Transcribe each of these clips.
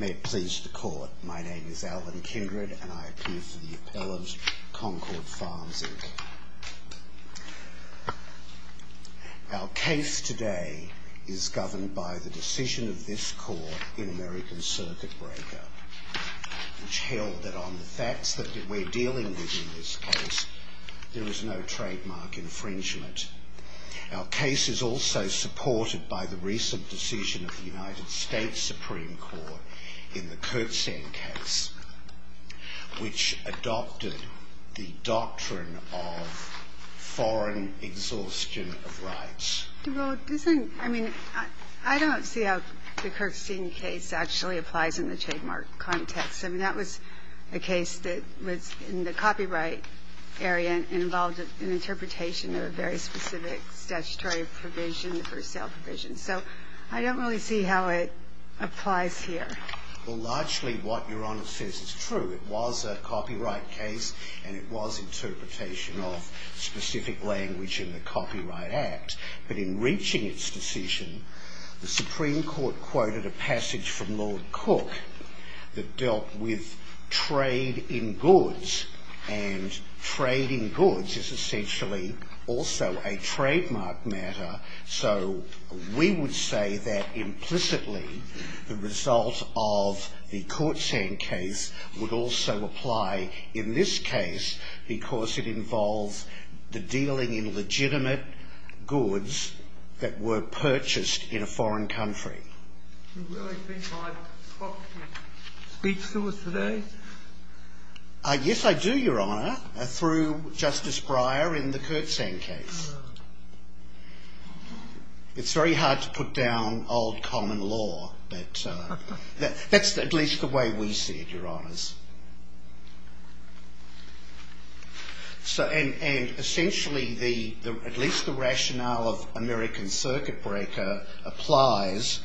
May it please the Court, my name is Alan Kindred and I appear for the appellate, Concord Farms, Inc. Our case today is governed by the decision of this Court in American Circuit Breaker, which held that on the facts that we're dealing with in this case, there is no trademark infringement. Our case is also supported by the recent decision of the United States Supreme Court in the Kurtzine case, which adopted the doctrine of foreign exhaustion of rights. I don't see how the Kurtzine case actually applies in the trademark context. I mean, that was a case that was in the copyright area and involved an interpretation of a very specific statutory provision, the first sale provision. So I don't really see how it applies here. Well, largely what Your Honor says is true. It was a copyright case and it was interpretation of specific language in the Copyright Act. But in reaching its decision, the Supreme Court quoted a passage from Lord Cook that dealt with trade in goods. And trade in goods is essentially also a trademark matter. So we would say that implicitly the result of the Kurtzine case would also apply in this case because it involves the dealing in legitimate goods that were purchased in a foreign country. Do you really think my talk speaks to us today? Yes, I do, Your Honor, through Justice Breyer in the Kurtzine case. It's very hard to put down old common law, but that's at least the way we see it, Your Honors. And essentially at least the rationale of American Circuit Breaker applies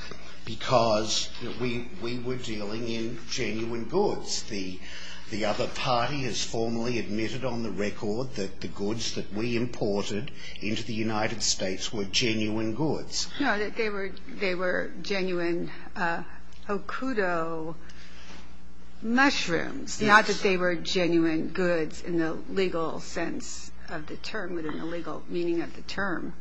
because we were dealing in genuine goods. The other party has formally admitted on the record that the goods that we imported into the United States were genuine goods. No, they were genuine Okudo mushrooms, not that they were genuine goods in the legal sense of the term, within the legal meaning of the term.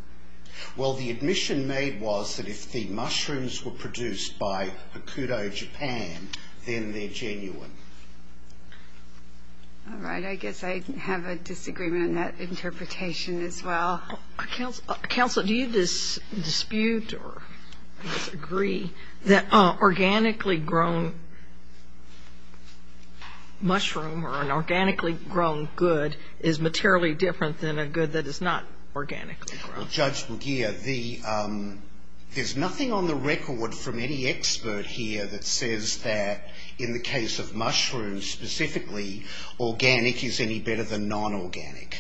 Well, the admission made was that if the mushrooms were produced by Okudo Japan, then they're genuine. All right, I guess I have a disagreement on that interpretation as well. Counsel, do you dispute or disagree that an organically grown mushroom or an organically grown good is materially different than a good that is not organically grown? Well, Judge McGeer, there's nothing on the record from any expert here that says that in the case of mushrooms specifically, organic is any better than non-organic.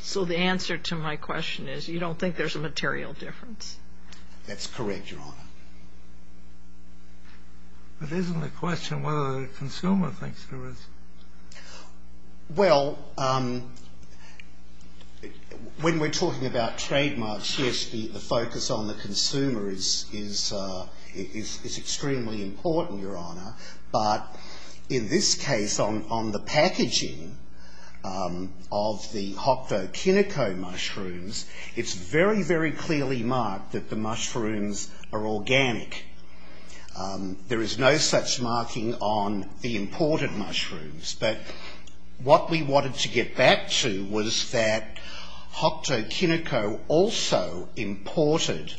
So the answer to my question is you don't think there's a material difference? That's correct, Your Honor. But isn't the question whether the consumer thinks there is? Well, when we're talking about trademarks, yes, the focus on the consumer is extremely important, Your Honor, but in this case, on the packaging of the Hokuto Kinuko mushrooms, it's very, very clearly marked that the mushrooms are organic. There is no such marking on the imported mushrooms, but what we wanted to get back to was that Hokuto Kinuko also imported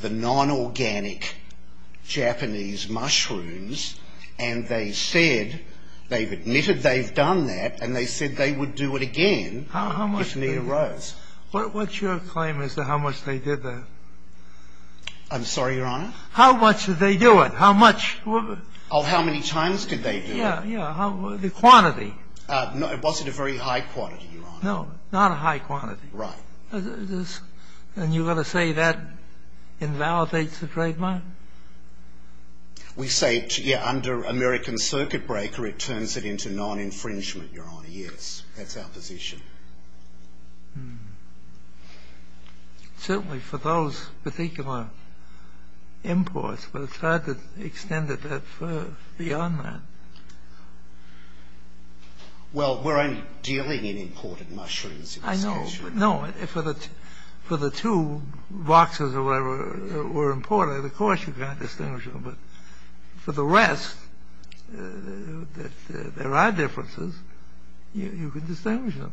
the non-organic Japanese mushrooms, and they said they've admitted they've done that, and they said they would do it again if it arose. What's your claim as to how much they did that? I'm sorry, Your Honor? How much did they do it? How much? Oh, how many times did they do it? Yeah, yeah. The quantity. Was it a very high quantity, Your Honor? No, not a high quantity. Right. And you're going to say that invalidates the trademark? We say, yeah, under American Circuit Breaker, it turns it into non-infringement, Your Honor, yes. That's our position. Hmm. Certainly for those particular imports, but it's hard to extend it beyond that. Well, we're only dealing in imported mushrooms. I know, but no. For the two boxes or whatever that were imported, of course you can't distinguish them, but for the rest, if there are differences, you can distinguish them.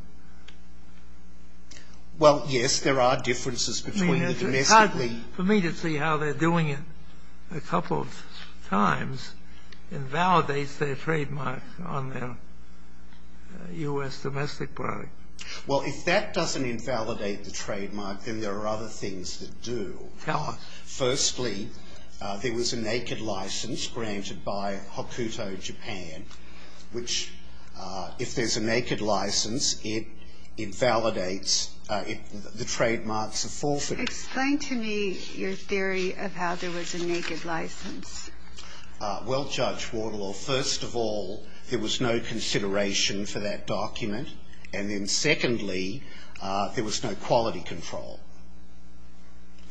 Well, yes, there are differences between the domestically... I mean, it's hard for me to see how they're doing it a couple of times invalidates their trademark on their U.S. domestic product. Well, if that doesn't invalidate the trademark, then there are other things that do. Tell us. Firstly, there was a naked license granted by Hokuto Japan, which if there's a naked license, it invalidates the trademarks of forfeit. Explain to me your theory of how there was a naked license. Well, Judge Waterlaw, first of all, there was no consideration for that document, and then secondly, there was no quality control.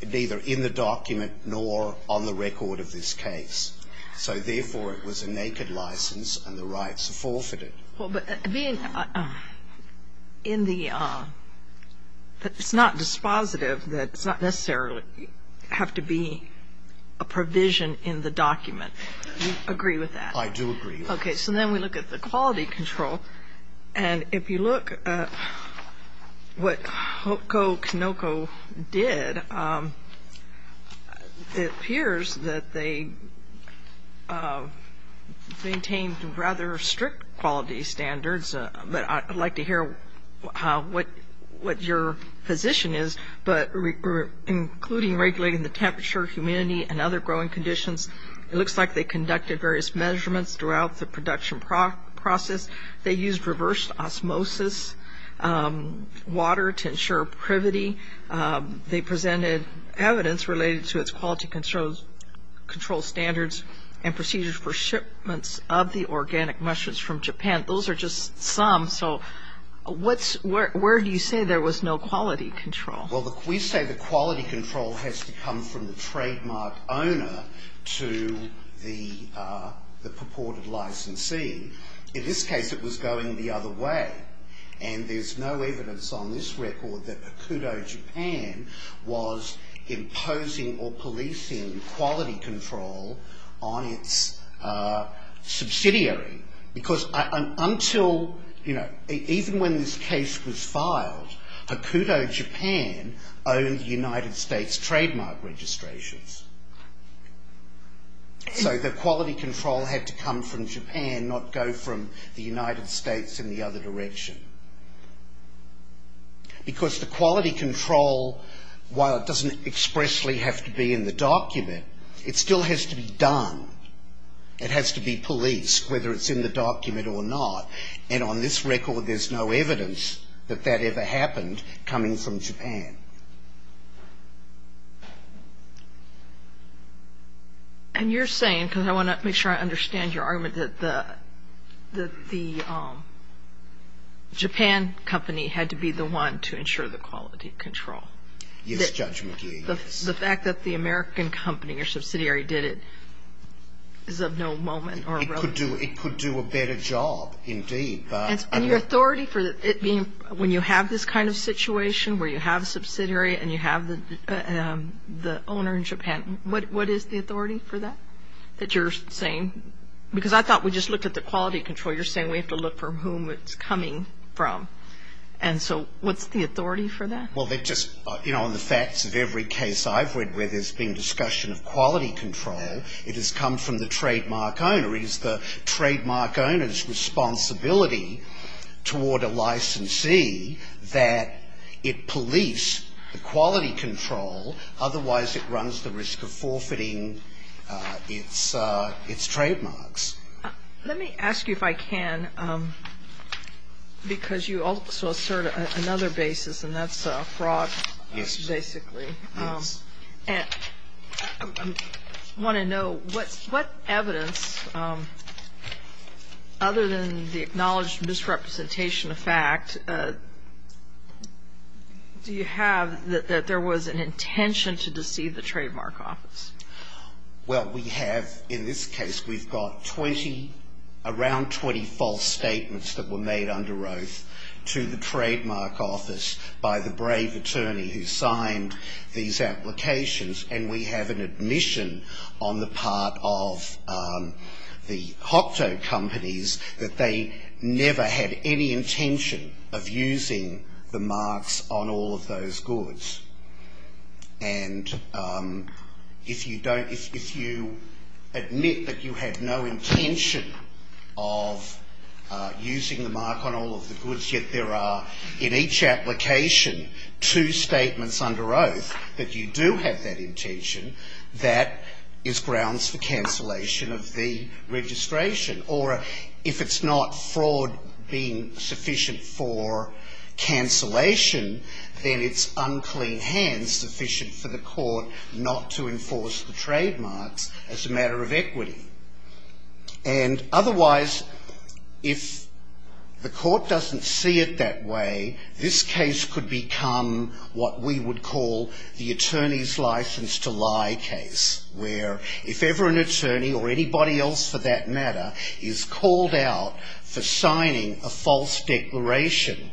Neither in the document nor on the record of this case. So, therefore, it was a naked license, and the rights are forfeited. Well, but being in the... It's not dispositive that it's not necessarily have to be a provision in the document. Do you agree with that? I do agree with that. Okay, so then we look at the quality control, and if you look at what Hokuto Kanoko did, it appears that they maintained rather strict quality standards, but I'd like to hear what your position is. But including regulating the temperature, humidity, and other growing conditions, it looks like they conducted various measurements throughout the production process. They used reverse osmosis water to ensure privity. They presented evidence related to its quality control standards and procedures for shipments of the organic mushrooms from Japan. Those are just some, so where do you say there was no quality control? Well, we say the quality control has to come from the trademark owner to the purported licensee. In this case, it was going the other way, and there's no evidence on this record that Hokuto Japan was imposing or policing quality control on its subsidiary, because even when this case was filed, Hokuto Japan owned the United States trademark registrations. So the quality control had to come from Japan, not go from the United States in the other direction. Because the quality control, while it doesn't expressly have to be in the document, it still has to be done. It has to be policed, whether it's in the document or not, and on this record there's no evidence that that ever happened coming from Japan. And you're saying, because I want to make sure I understand your argument, that the Japan company had to be the one to ensure the quality control. Yes, Judge McGee, yes. The fact that the American company or subsidiary did it is of no moment or relative. It could do a better job, indeed. And your authority for it being, when you have this kind of situation where you have a subsidiary and you have the owner in Japan, what is the authority for that that you're saying? Because I thought we just looked at the quality control. You're saying we have to look for whom it's coming from. And so what's the authority for that? Well, they just, you know, in the facts of every case I've read where there's been discussion of quality control, it has come from the trademark owner. It is the trademark owner's responsibility toward a licensee that it police the quality control. Otherwise, it runs the risk of forfeiting its trademarks. Let me ask you if I can, because you also assert another basis, Yes. I want to know what evidence, other than the acknowledged misrepresentation of fact, do you have that there was an intention to deceive the trademark office? Well, we have, in this case, we've got 20, around 20 false statements that were made under oath to the trademark office by the brave attorney who signed these applications. And we have an admission on the part of the Hocto companies that they never had any intention of using the marks on all of those goods. And if you admit that you had no intention of using the mark on all of the goods, yet there are in each application two statements under oath that you do have that intention, that is grounds for cancellation of the registration. Or if it's not fraud being sufficient for cancellation, then it's unclean hands sufficient for the court not to enforce the trademarks as a matter of equity. And otherwise, if the court doesn't see it that way, this case could become what we would call the attorney's license to lie case, where if ever an attorney, or anybody else for that matter, is called out for signing a false declaration,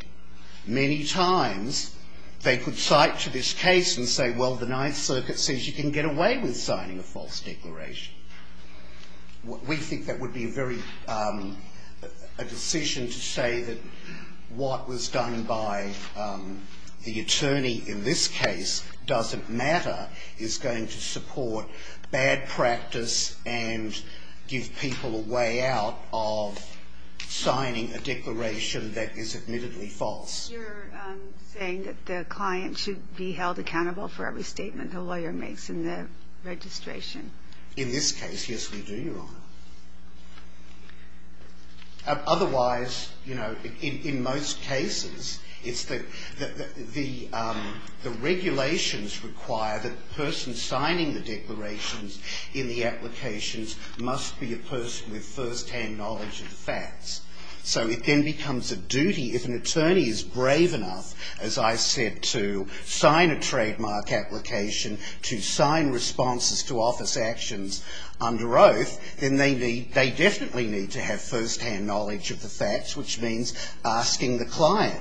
many times they could cite to this case and say, well, the Ninth Circuit says you can get away with signing a false declaration. We think that would be a very, a decision to say that what was done by the attorney in this case doesn't matter, is going to support bad practice and give people a way out of signing a declaration that is admittedly false. You're saying that the client should be held accountable for every statement a lawyer makes in the registration. In this case, yes, we do, Your Honor. Otherwise, you know, in most cases, it's the regulations require that the person signing the declarations in the applications So it then becomes a duty. If an attorney is brave enough, as I said, to sign a trademark application, to sign responses to office actions under oath, then they definitely need to have firsthand knowledge of the facts, which means asking the client.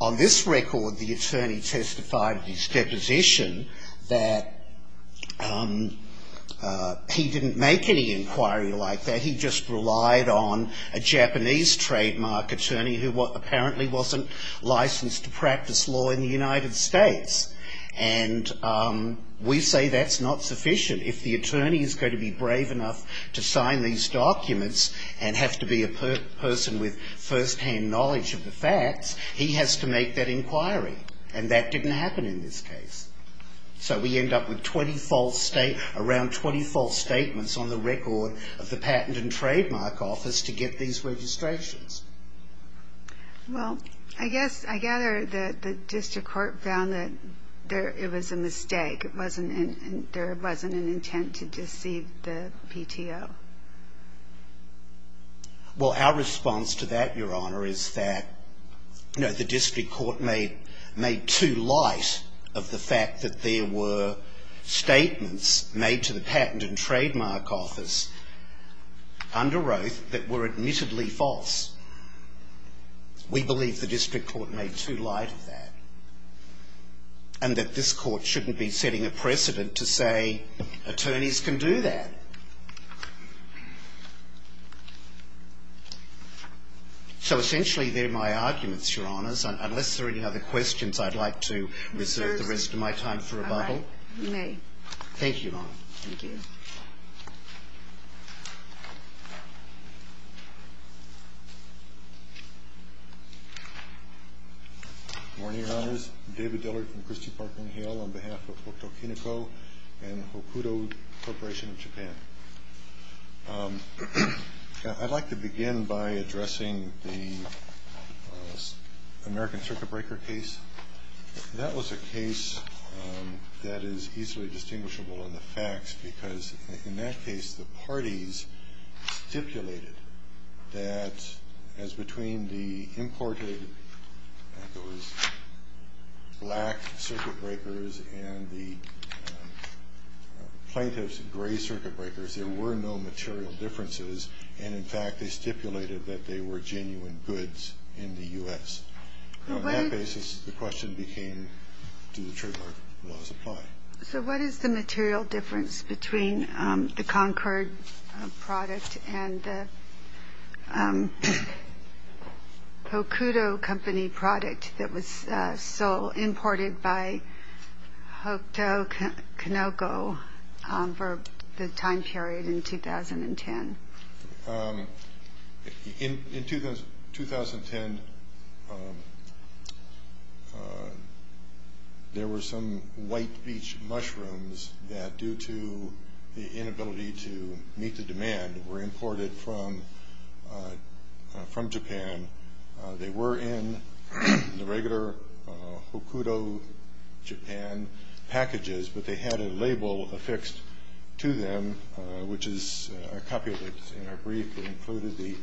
On this record, the attorney testified at his deposition that he didn't make any inquiry like that. He just relied on a Japanese trademark attorney who apparently wasn't licensed to practice law in the United States. And we say that's not sufficient. If the attorney is going to be brave enough to sign these documents and have to be a person with firsthand knowledge of the facts, he has to make that inquiry. And that didn't happen in this case. So we end up with around 20 false statements on the record of the Patent and Trademark Office to get these registrations. Well, I guess I gather that the district court found that it was a mistake. There wasn't an intent to deceive the PTO. Well, our response to that, Your Honor, is that the district court made too light of the fact that there were statements made to the Patent and Trademark Office under oath that were admittedly false. We believe the district court made too light of that and that this court shouldn't be setting a precedent to say attorneys can do that. So essentially, they're my arguments, Your Honors. Unless there are any other questions, I'd like to reserve the rest of my time for rebuttal. All right. You may. Thank you, Your Honor. Thank you. Good morning, Your Honors. I'm David Dillard from Christie, Parkland & Hale on behalf of Hokuto Kinuko and Hokuto Corporation of Japan. I'd like to begin by addressing the American circuit breaker case. That was a case that is easily distinguishable in the facts because in that case, the parties stipulated that as between the imported black circuit breakers and the plaintiff's gray circuit breakers, there were no material differences. And in fact, they stipulated that they were genuine goods in the U.S. On that basis, the question became, do the trademark laws apply? So what is the material difference between the Concord product and the Hokuto Company product that was sold, imported by Hokuto Kinuko for the time period in 2010? In 2010, there were some white beach mushrooms that, due to the inability to meet the demand, were imported from Japan. They were in the regular Hokuto Japan packages, but they had a label affixed to them, which is a copy of it. In our brief, it included the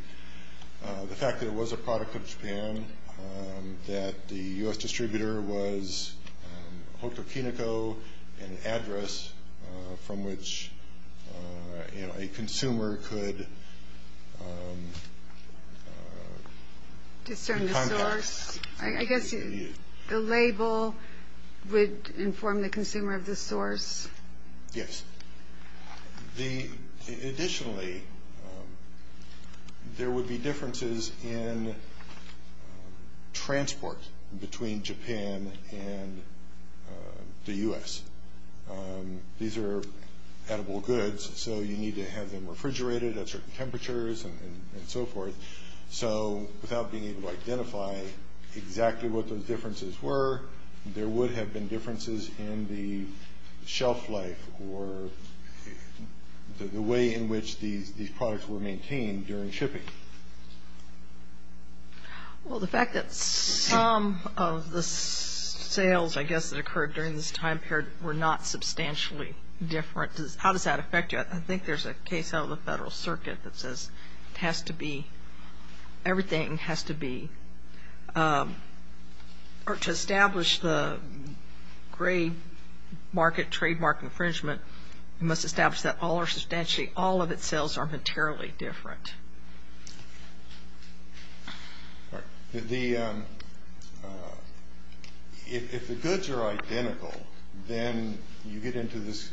fact that it was a product of Japan, that the U.S. distributor was Hokuto Kinuko, an address from which a consumer could contact. I guess the label would inform the consumer of the source. Yes. Additionally, there would be differences in transport between Japan and the U.S. These are edible goods, so you need to have them refrigerated at certain temperatures and so forth. So without being able to identify exactly what those differences were, there would have been differences in the shelf life or the way in which these products were maintained during shipping. Well, the fact that some of the sales, I guess, that occurred during this time period were not substantially different, how does that affect you? I think there's a case out of the Federal Circuit that says it has to be, everything has to be, or to establish the gray market trademark infringement, you must establish that all of its sales are materially different. All right. If the goods are identical, then you get into this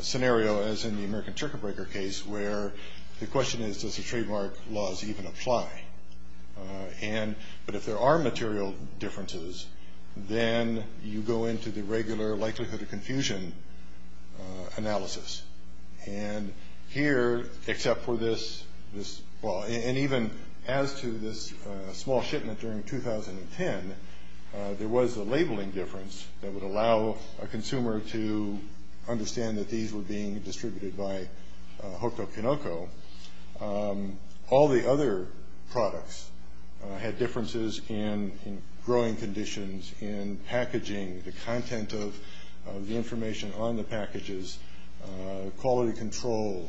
scenario, as in the American Tricker Breaker case, where the question is, does the trademark laws even apply? But if there are material differences, then you go into the regular likelihood of confusion analysis. And here, except for this, well, and even as to this small shipment during 2010, there was a labeling difference that would allow a consumer to understand that these were being distributed by Hokuto Kinoko. All the other products had differences in growing conditions, in packaging, the content of the information on the packages, quality control,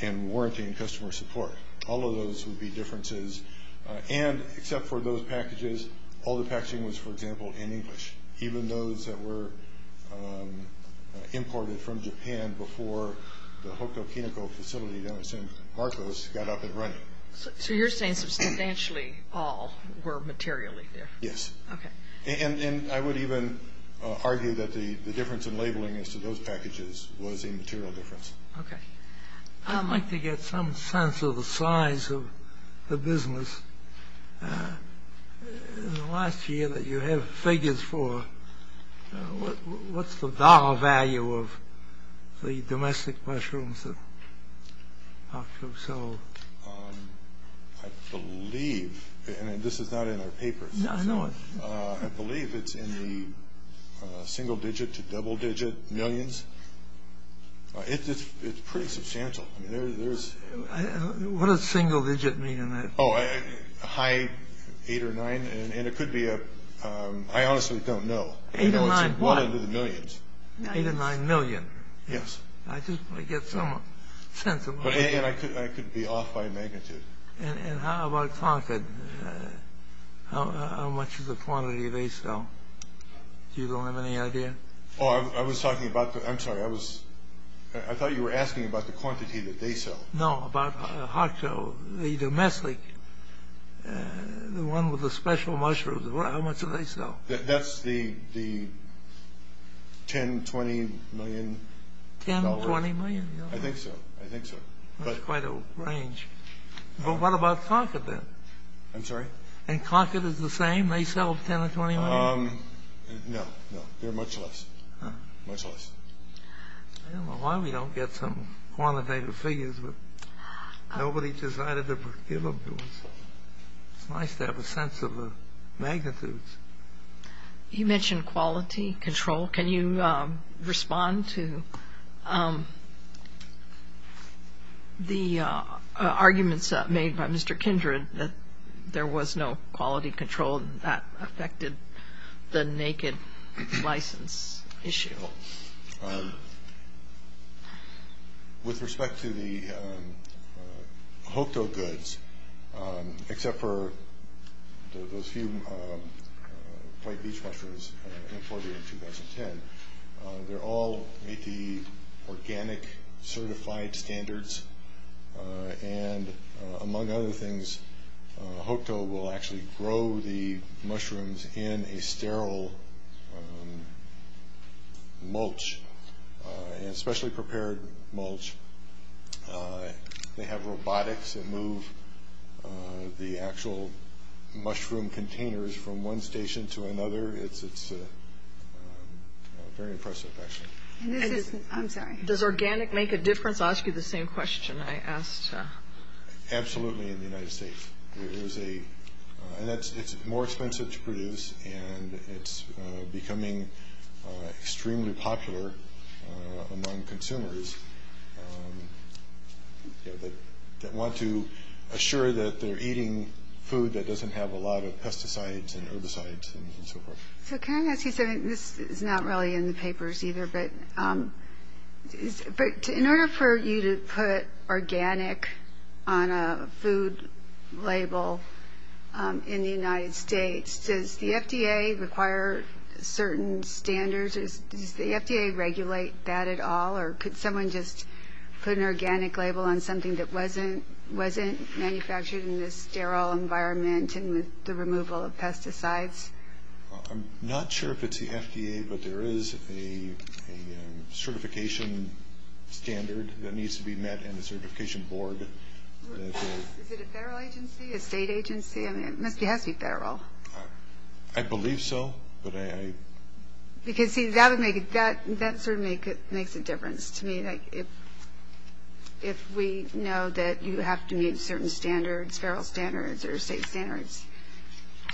and warranty and customer support. All of those would be differences. And except for those packages, all the packaging was, for example, in English. Even those that were imported from Japan before the Hokuto Kinoko facility down in San Marcos got up and running. So you're saying substantially all were materially different. Yes. Okay. And I would even argue that the difference in labeling as to those packages was a material difference. Okay. I'd like to get some sense of the size of the business. In the last year that you have figures for, what's the dollar value of the domestic mushrooms that Hokuto sold? I believe, and this is not in our papers. No, I know it. I believe it's in the single-digit to double-digit millions. It's pretty substantial. What does single-digit mean? Oh, a high eight or nine. And it could be a – I honestly don't know. Eight or nine what? One of the millions. Eight or nine million? Yes. I just get some sense of what that is. And I could be off by a magnitude. And how about quantity? How much is the quantity they sell? You don't have any idea? Oh, I was talking about – I'm sorry. I thought you were asking about the quantity that they sell. No, about Hokuto, the domestic, the one with the special mushrooms. How much do they sell? That's the $10 million, $20 million. $10 million, $20 million? I think so. I think so. That's quite a range. But what about Koncat then? I'm sorry? And Koncat is the same? They sell $10 million or $20 million? No, no. They're much less. Much less. I don't know why we don't get some quantitative figures. But nobody decided to give them to us. It's nice to have a sense of the magnitudes. You mentioned quality control. Can you respond to the arguments made by Mr. Kindred that there was no quality control and that affected the naked license issue? No. With respect to the Hokuto goods, except for those few white beech mushrooms imported in 2010, they all meet the organic certified standards. And among other things, Hokuto will actually grow the mushrooms in a sterile mulch, a specially prepared mulch. They have robotics that move the actual mushroom containers from one station to another. It's very impressive, actually. I'm sorry? Does organic make a difference? I'll ask you the same question I asked. Absolutely in the United States. It's more expensive to produce, and it's becoming extremely popular among consumers that want to assure that they're eating food that doesn't have a lot of pesticides and herbicides and so forth. So can I ask you something? This is not really in the papers either, but in order for you to put organic on a food label in the United States, does the FDA require certain standards? Does the FDA regulate that at all? Or could someone just put an organic label on something that wasn't manufactured in this sterile environment and with the removal of pesticides? I'm not sure if it's the FDA, but there is a certification standard that needs to be met and a certification board. Is it a federal agency, a state agency? I mean, it has to be federal. I believe so. Because, see, that sort of makes a difference to me. If we know that you have to meet certain standards, sterile standards or state standards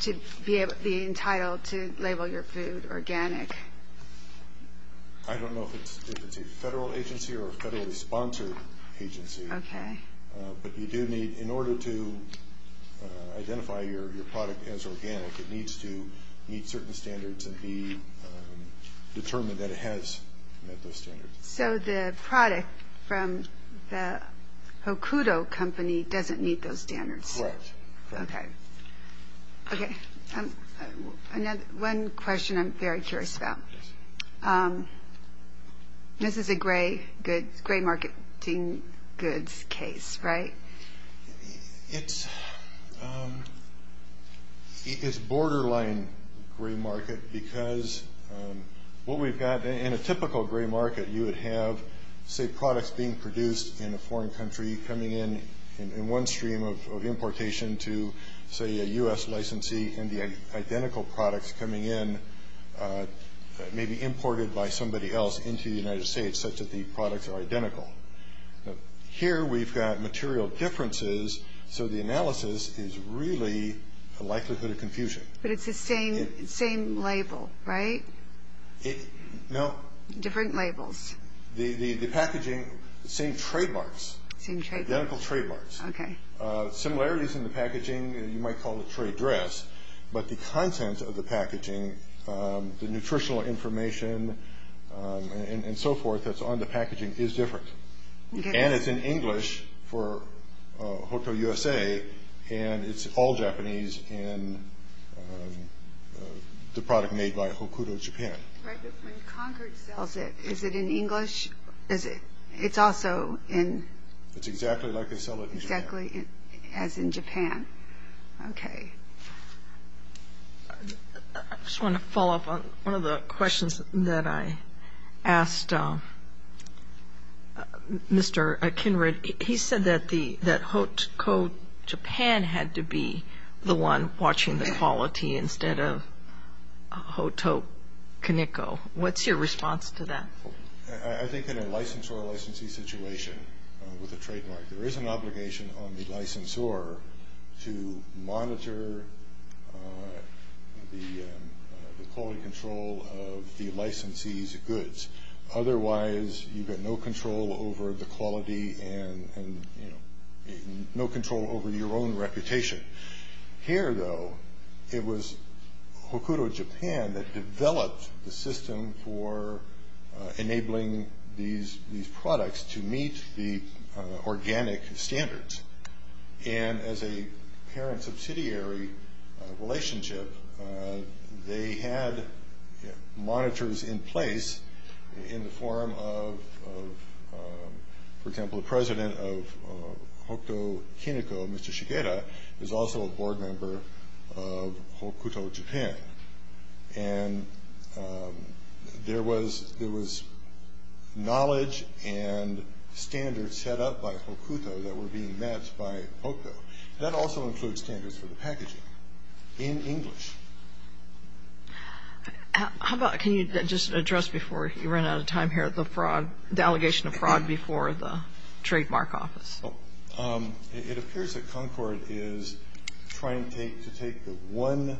to be entitled to label your food organic. I don't know if it's a federal agency or a federally sponsored agency. Okay. But you do need, in order to identify your product as organic, it needs to meet certain standards and be determined that it has met those standards. So the product from the Hokuto Company doesn't meet those standards? Correct. Okay. One question I'm very curious about. This is a gray marketing goods case, right? It's borderline gray market because what we've got in a typical gray market, you would have, say, products being produced in a foreign country coming in, in one stream of importation to, say, a U.S. licensee, and the identical products coming in may be imported by somebody else into the United States, such that the products are identical. Here we've got material differences, so the analysis is really a likelihood of confusion. But it's the same label, right? No. Different labels. The packaging, same trademarks. Same trademarks. Identical trademarks. Okay. Similarities in the packaging, you might call it trade dress, but the content of the packaging, the nutritional information and so forth that's on the packaging is different. And it's in English for Hokuto USA, and it's all Japanese in the product made by Hokuto Japan. Right. When Concord sells it, is it in English? It's also in? It's exactly like they sell it in Japan. Exactly as in Japan. Okay. I just want to follow up on one of the questions that I asked Mr. Kinrod. He said that Hokuto Japan had to be the one watching the quality instead of Hokuto Kaneko. What's your response to that? I think in a licensor-licensee situation with a trademark, there is an obligation on the licensor to monitor the quality control of the licensee's goods. Otherwise, you've got no control over the quality and no control over your own reputation. Here, though, it was Hokuto Japan that developed the system for enabling these products to meet the organic standards. And as a parent-subsidiary relationship, they had monitors in place in the form of, for example, the president of Hokuto Kaneko, Mr. Shigeru, is also a board member of Hokuto Japan. And there was knowledge and standards set up by Hokuto that were being met by Hokuto. That also includes standards for the packaging in English. Can you just address before you run out of time here the allegation of fraud before the trademark office? It appears that Concord is trying to take the one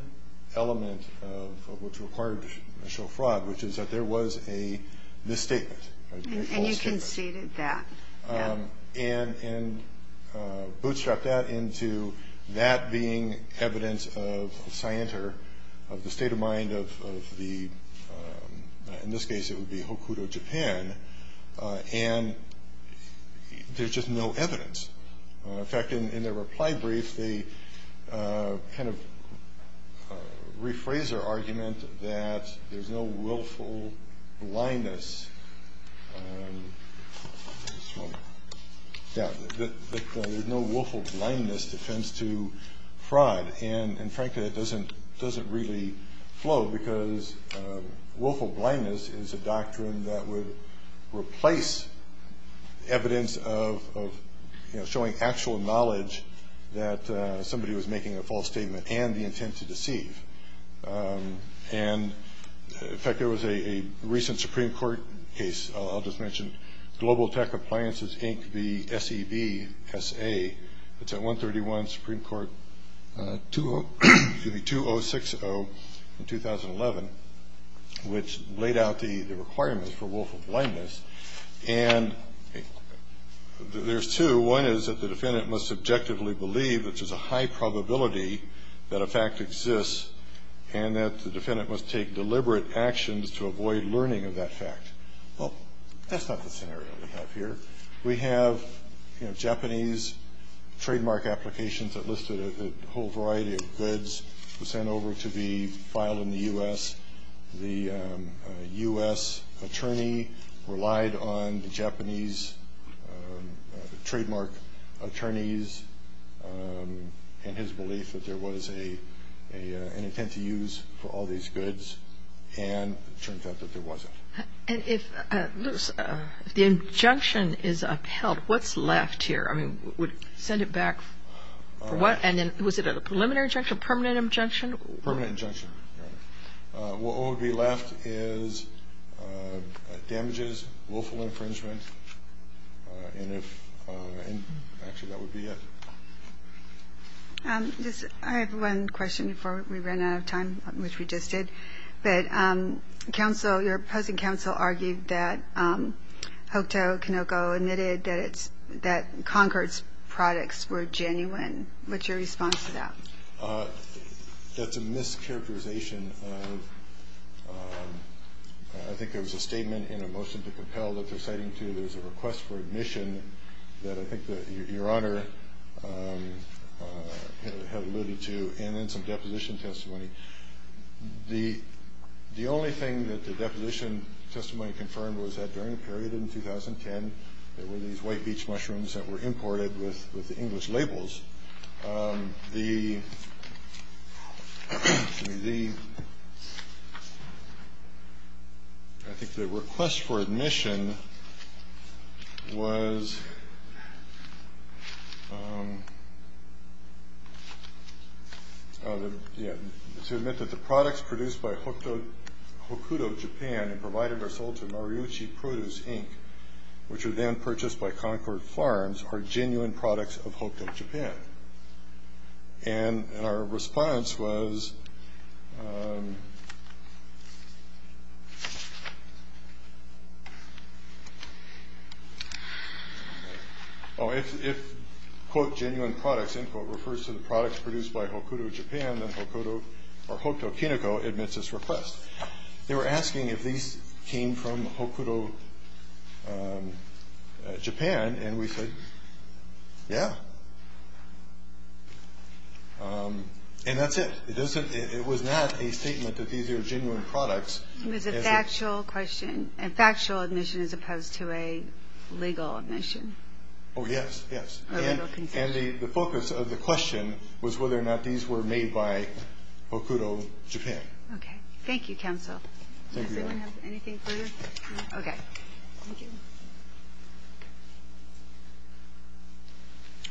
element of what's required to show fraud, which is that there was a misstatement, a false statement. And you conceded that. And bootstrapped that into that being evidence of scienter, of the state of mind of the – In fact, in their reply brief, they kind of rephrase their argument that there's no willful blindness defense to fraud. And, frankly, that doesn't really flow, because willful blindness is a doctrine that would replace evidence of showing actual knowledge that somebody was making a false statement and the intent to deceive. And, in fact, there was a recent Supreme Court case, I'll just mention, Global Tech Appliances, Inc., the SEVSA, that's at 131 Supreme Court 2060 in 2011, which laid out the requirements for willful blindness. And there's two. One is that the defendant must objectively believe that there's a high probability that a fact exists and that the defendant must take deliberate actions to avoid learning of that fact. Well, that's not the scenario we have here. We have, you know, Japanese trademark applications that listed a whole variety of goods sent over to be filed in the U.S. The U.S. attorney relied on the Japanese trademark attorneys and his belief that there was an intent to use for all these goods. And it turns out that there wasn't. And if the injunction is upheld, what's left here? I mean, send it back for what? And then was it a preliminary injunction, permanent injunction? Permanent injunction, Your Honor. What would be left is damages, willful infringement, and actually that would be it. I have one question before we run out of time, which we just did. But counsel, your opposing counsel, argued that Hokuto Konoko admitted that Concord's products were genuine. What's your response to that? That's a mischaracterization. I think there was a statement in a motion to compel that they're citing to. There's a request for admission that I think that Your Honor had alluded to and then some deposition testimony. The only thing that the deposition testimony confirmed was that during a period in 2010, there were these white beach mushrooms that were imported with English labels. I think the request for admission was to admit that the products produced by Hokuto Japan and provided or sold to Noriuchi Produce, Inc., which were then purchased by Concord Farms, are genuine products of Hokuto Japan. And our response was, oh, if, quote, genuine products, end quote, refers to the products produced by Hokuto Japan, then Hokuto Konoko admits this request. They were asking if these came from Hokuto Japan. And we said, yeah. And that's it. It was not a statement that these are genuine products. It was a factual question, a factual admission as opposed to a legal admission. Oh, yes, yes. And the focus of the question was whether or not these were made by Hokuto Japan. Okay. Thank you, counsel. Does anyone have anything further? No? Okay. Thank you.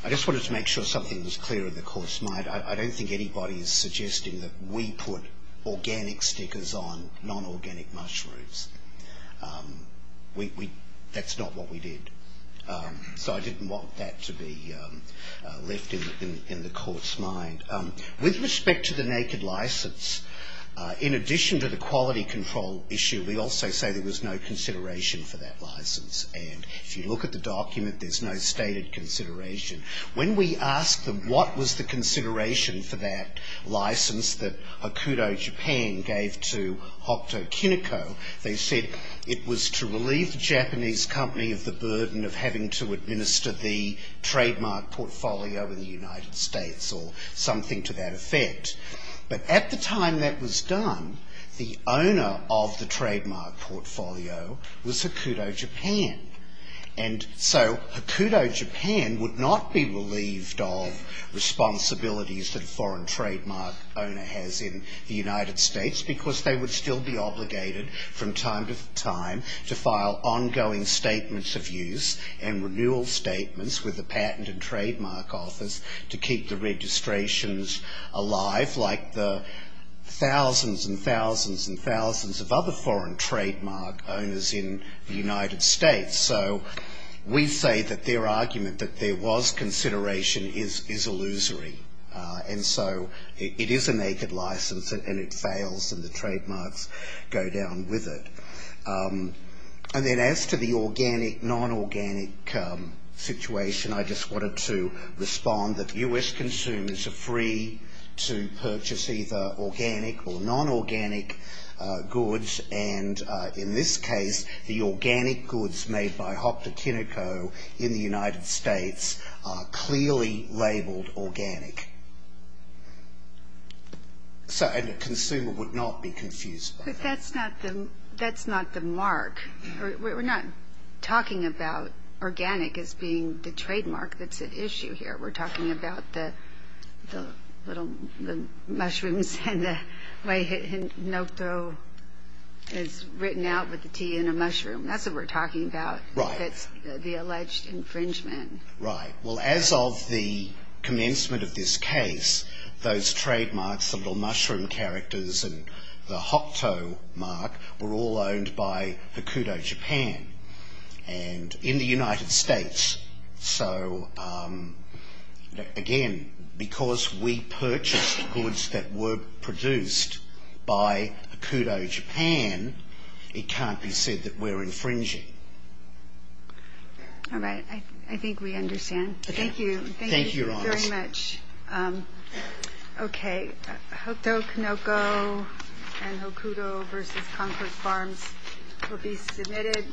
I just wanted to make sure something was clear in the court's mind. I don't think anybody is suggesting that we put organic stickers on non-organic mushrooms. That's not what we did. So I didn't want that to be left in the court's mind. With respect to the naked license, in addition to the quality control issue, we also say there was no consideration for that license. And if you look at the document, there's no stated consideration. When we asked them what was the consideration for that license that Hokuto Japan gave to Hokuto Konoko, they said it was to relieve the Japanese company of the burden of having to administer the trademark portfolio in the United States or something to that effect. But at the time that was done, the owner of the trademark portfolio was Hokuto Japan. And so Hokuto Japan would not be relieved of responsibilities that a foreign trademark owner has in the United States because they would still be obligated from time to time to file ongoing statements of use and renewal statements with the Patent and Trademark Office to keep the registrations alive like the thousands and thousands and thousands of other foreign trademark owners in the United States. So we say that their argument that there was consideration is illusory. And so it is a naked license and it fails and the trademarks go down with it. And then as to the organic, non-organic situation, I just wanted to respond that U.S. consumers are free to purchase either organic or non-organic goods. And in this case, the organic goods made by Hokuto Konoko in the United States are clearly labeled organic. And the consumer would not be confused by that. But that's not the mark. We're not talking about organic as being the trademark that's at issue here. We're talking about the little mushrooms and the way Hokuto is written out with a T and a mushroom. That's what we're talking about. Right. That's the alleged infringement. Right. Well, as of the commencement of this case, those trademarks, the little mushroom characters and the Hokuto mark were all owned by Hokuto Japan and in the United States. So, again, because we purchased goods that were produced by Hokuto Japan, it can't be said that we're infringing. All right. I think we understand. Thank you. Thank you, Your Honor. Thank you very much. Okay. Hokuto Konoko and Hokuto versus Concord Farms will be submitted.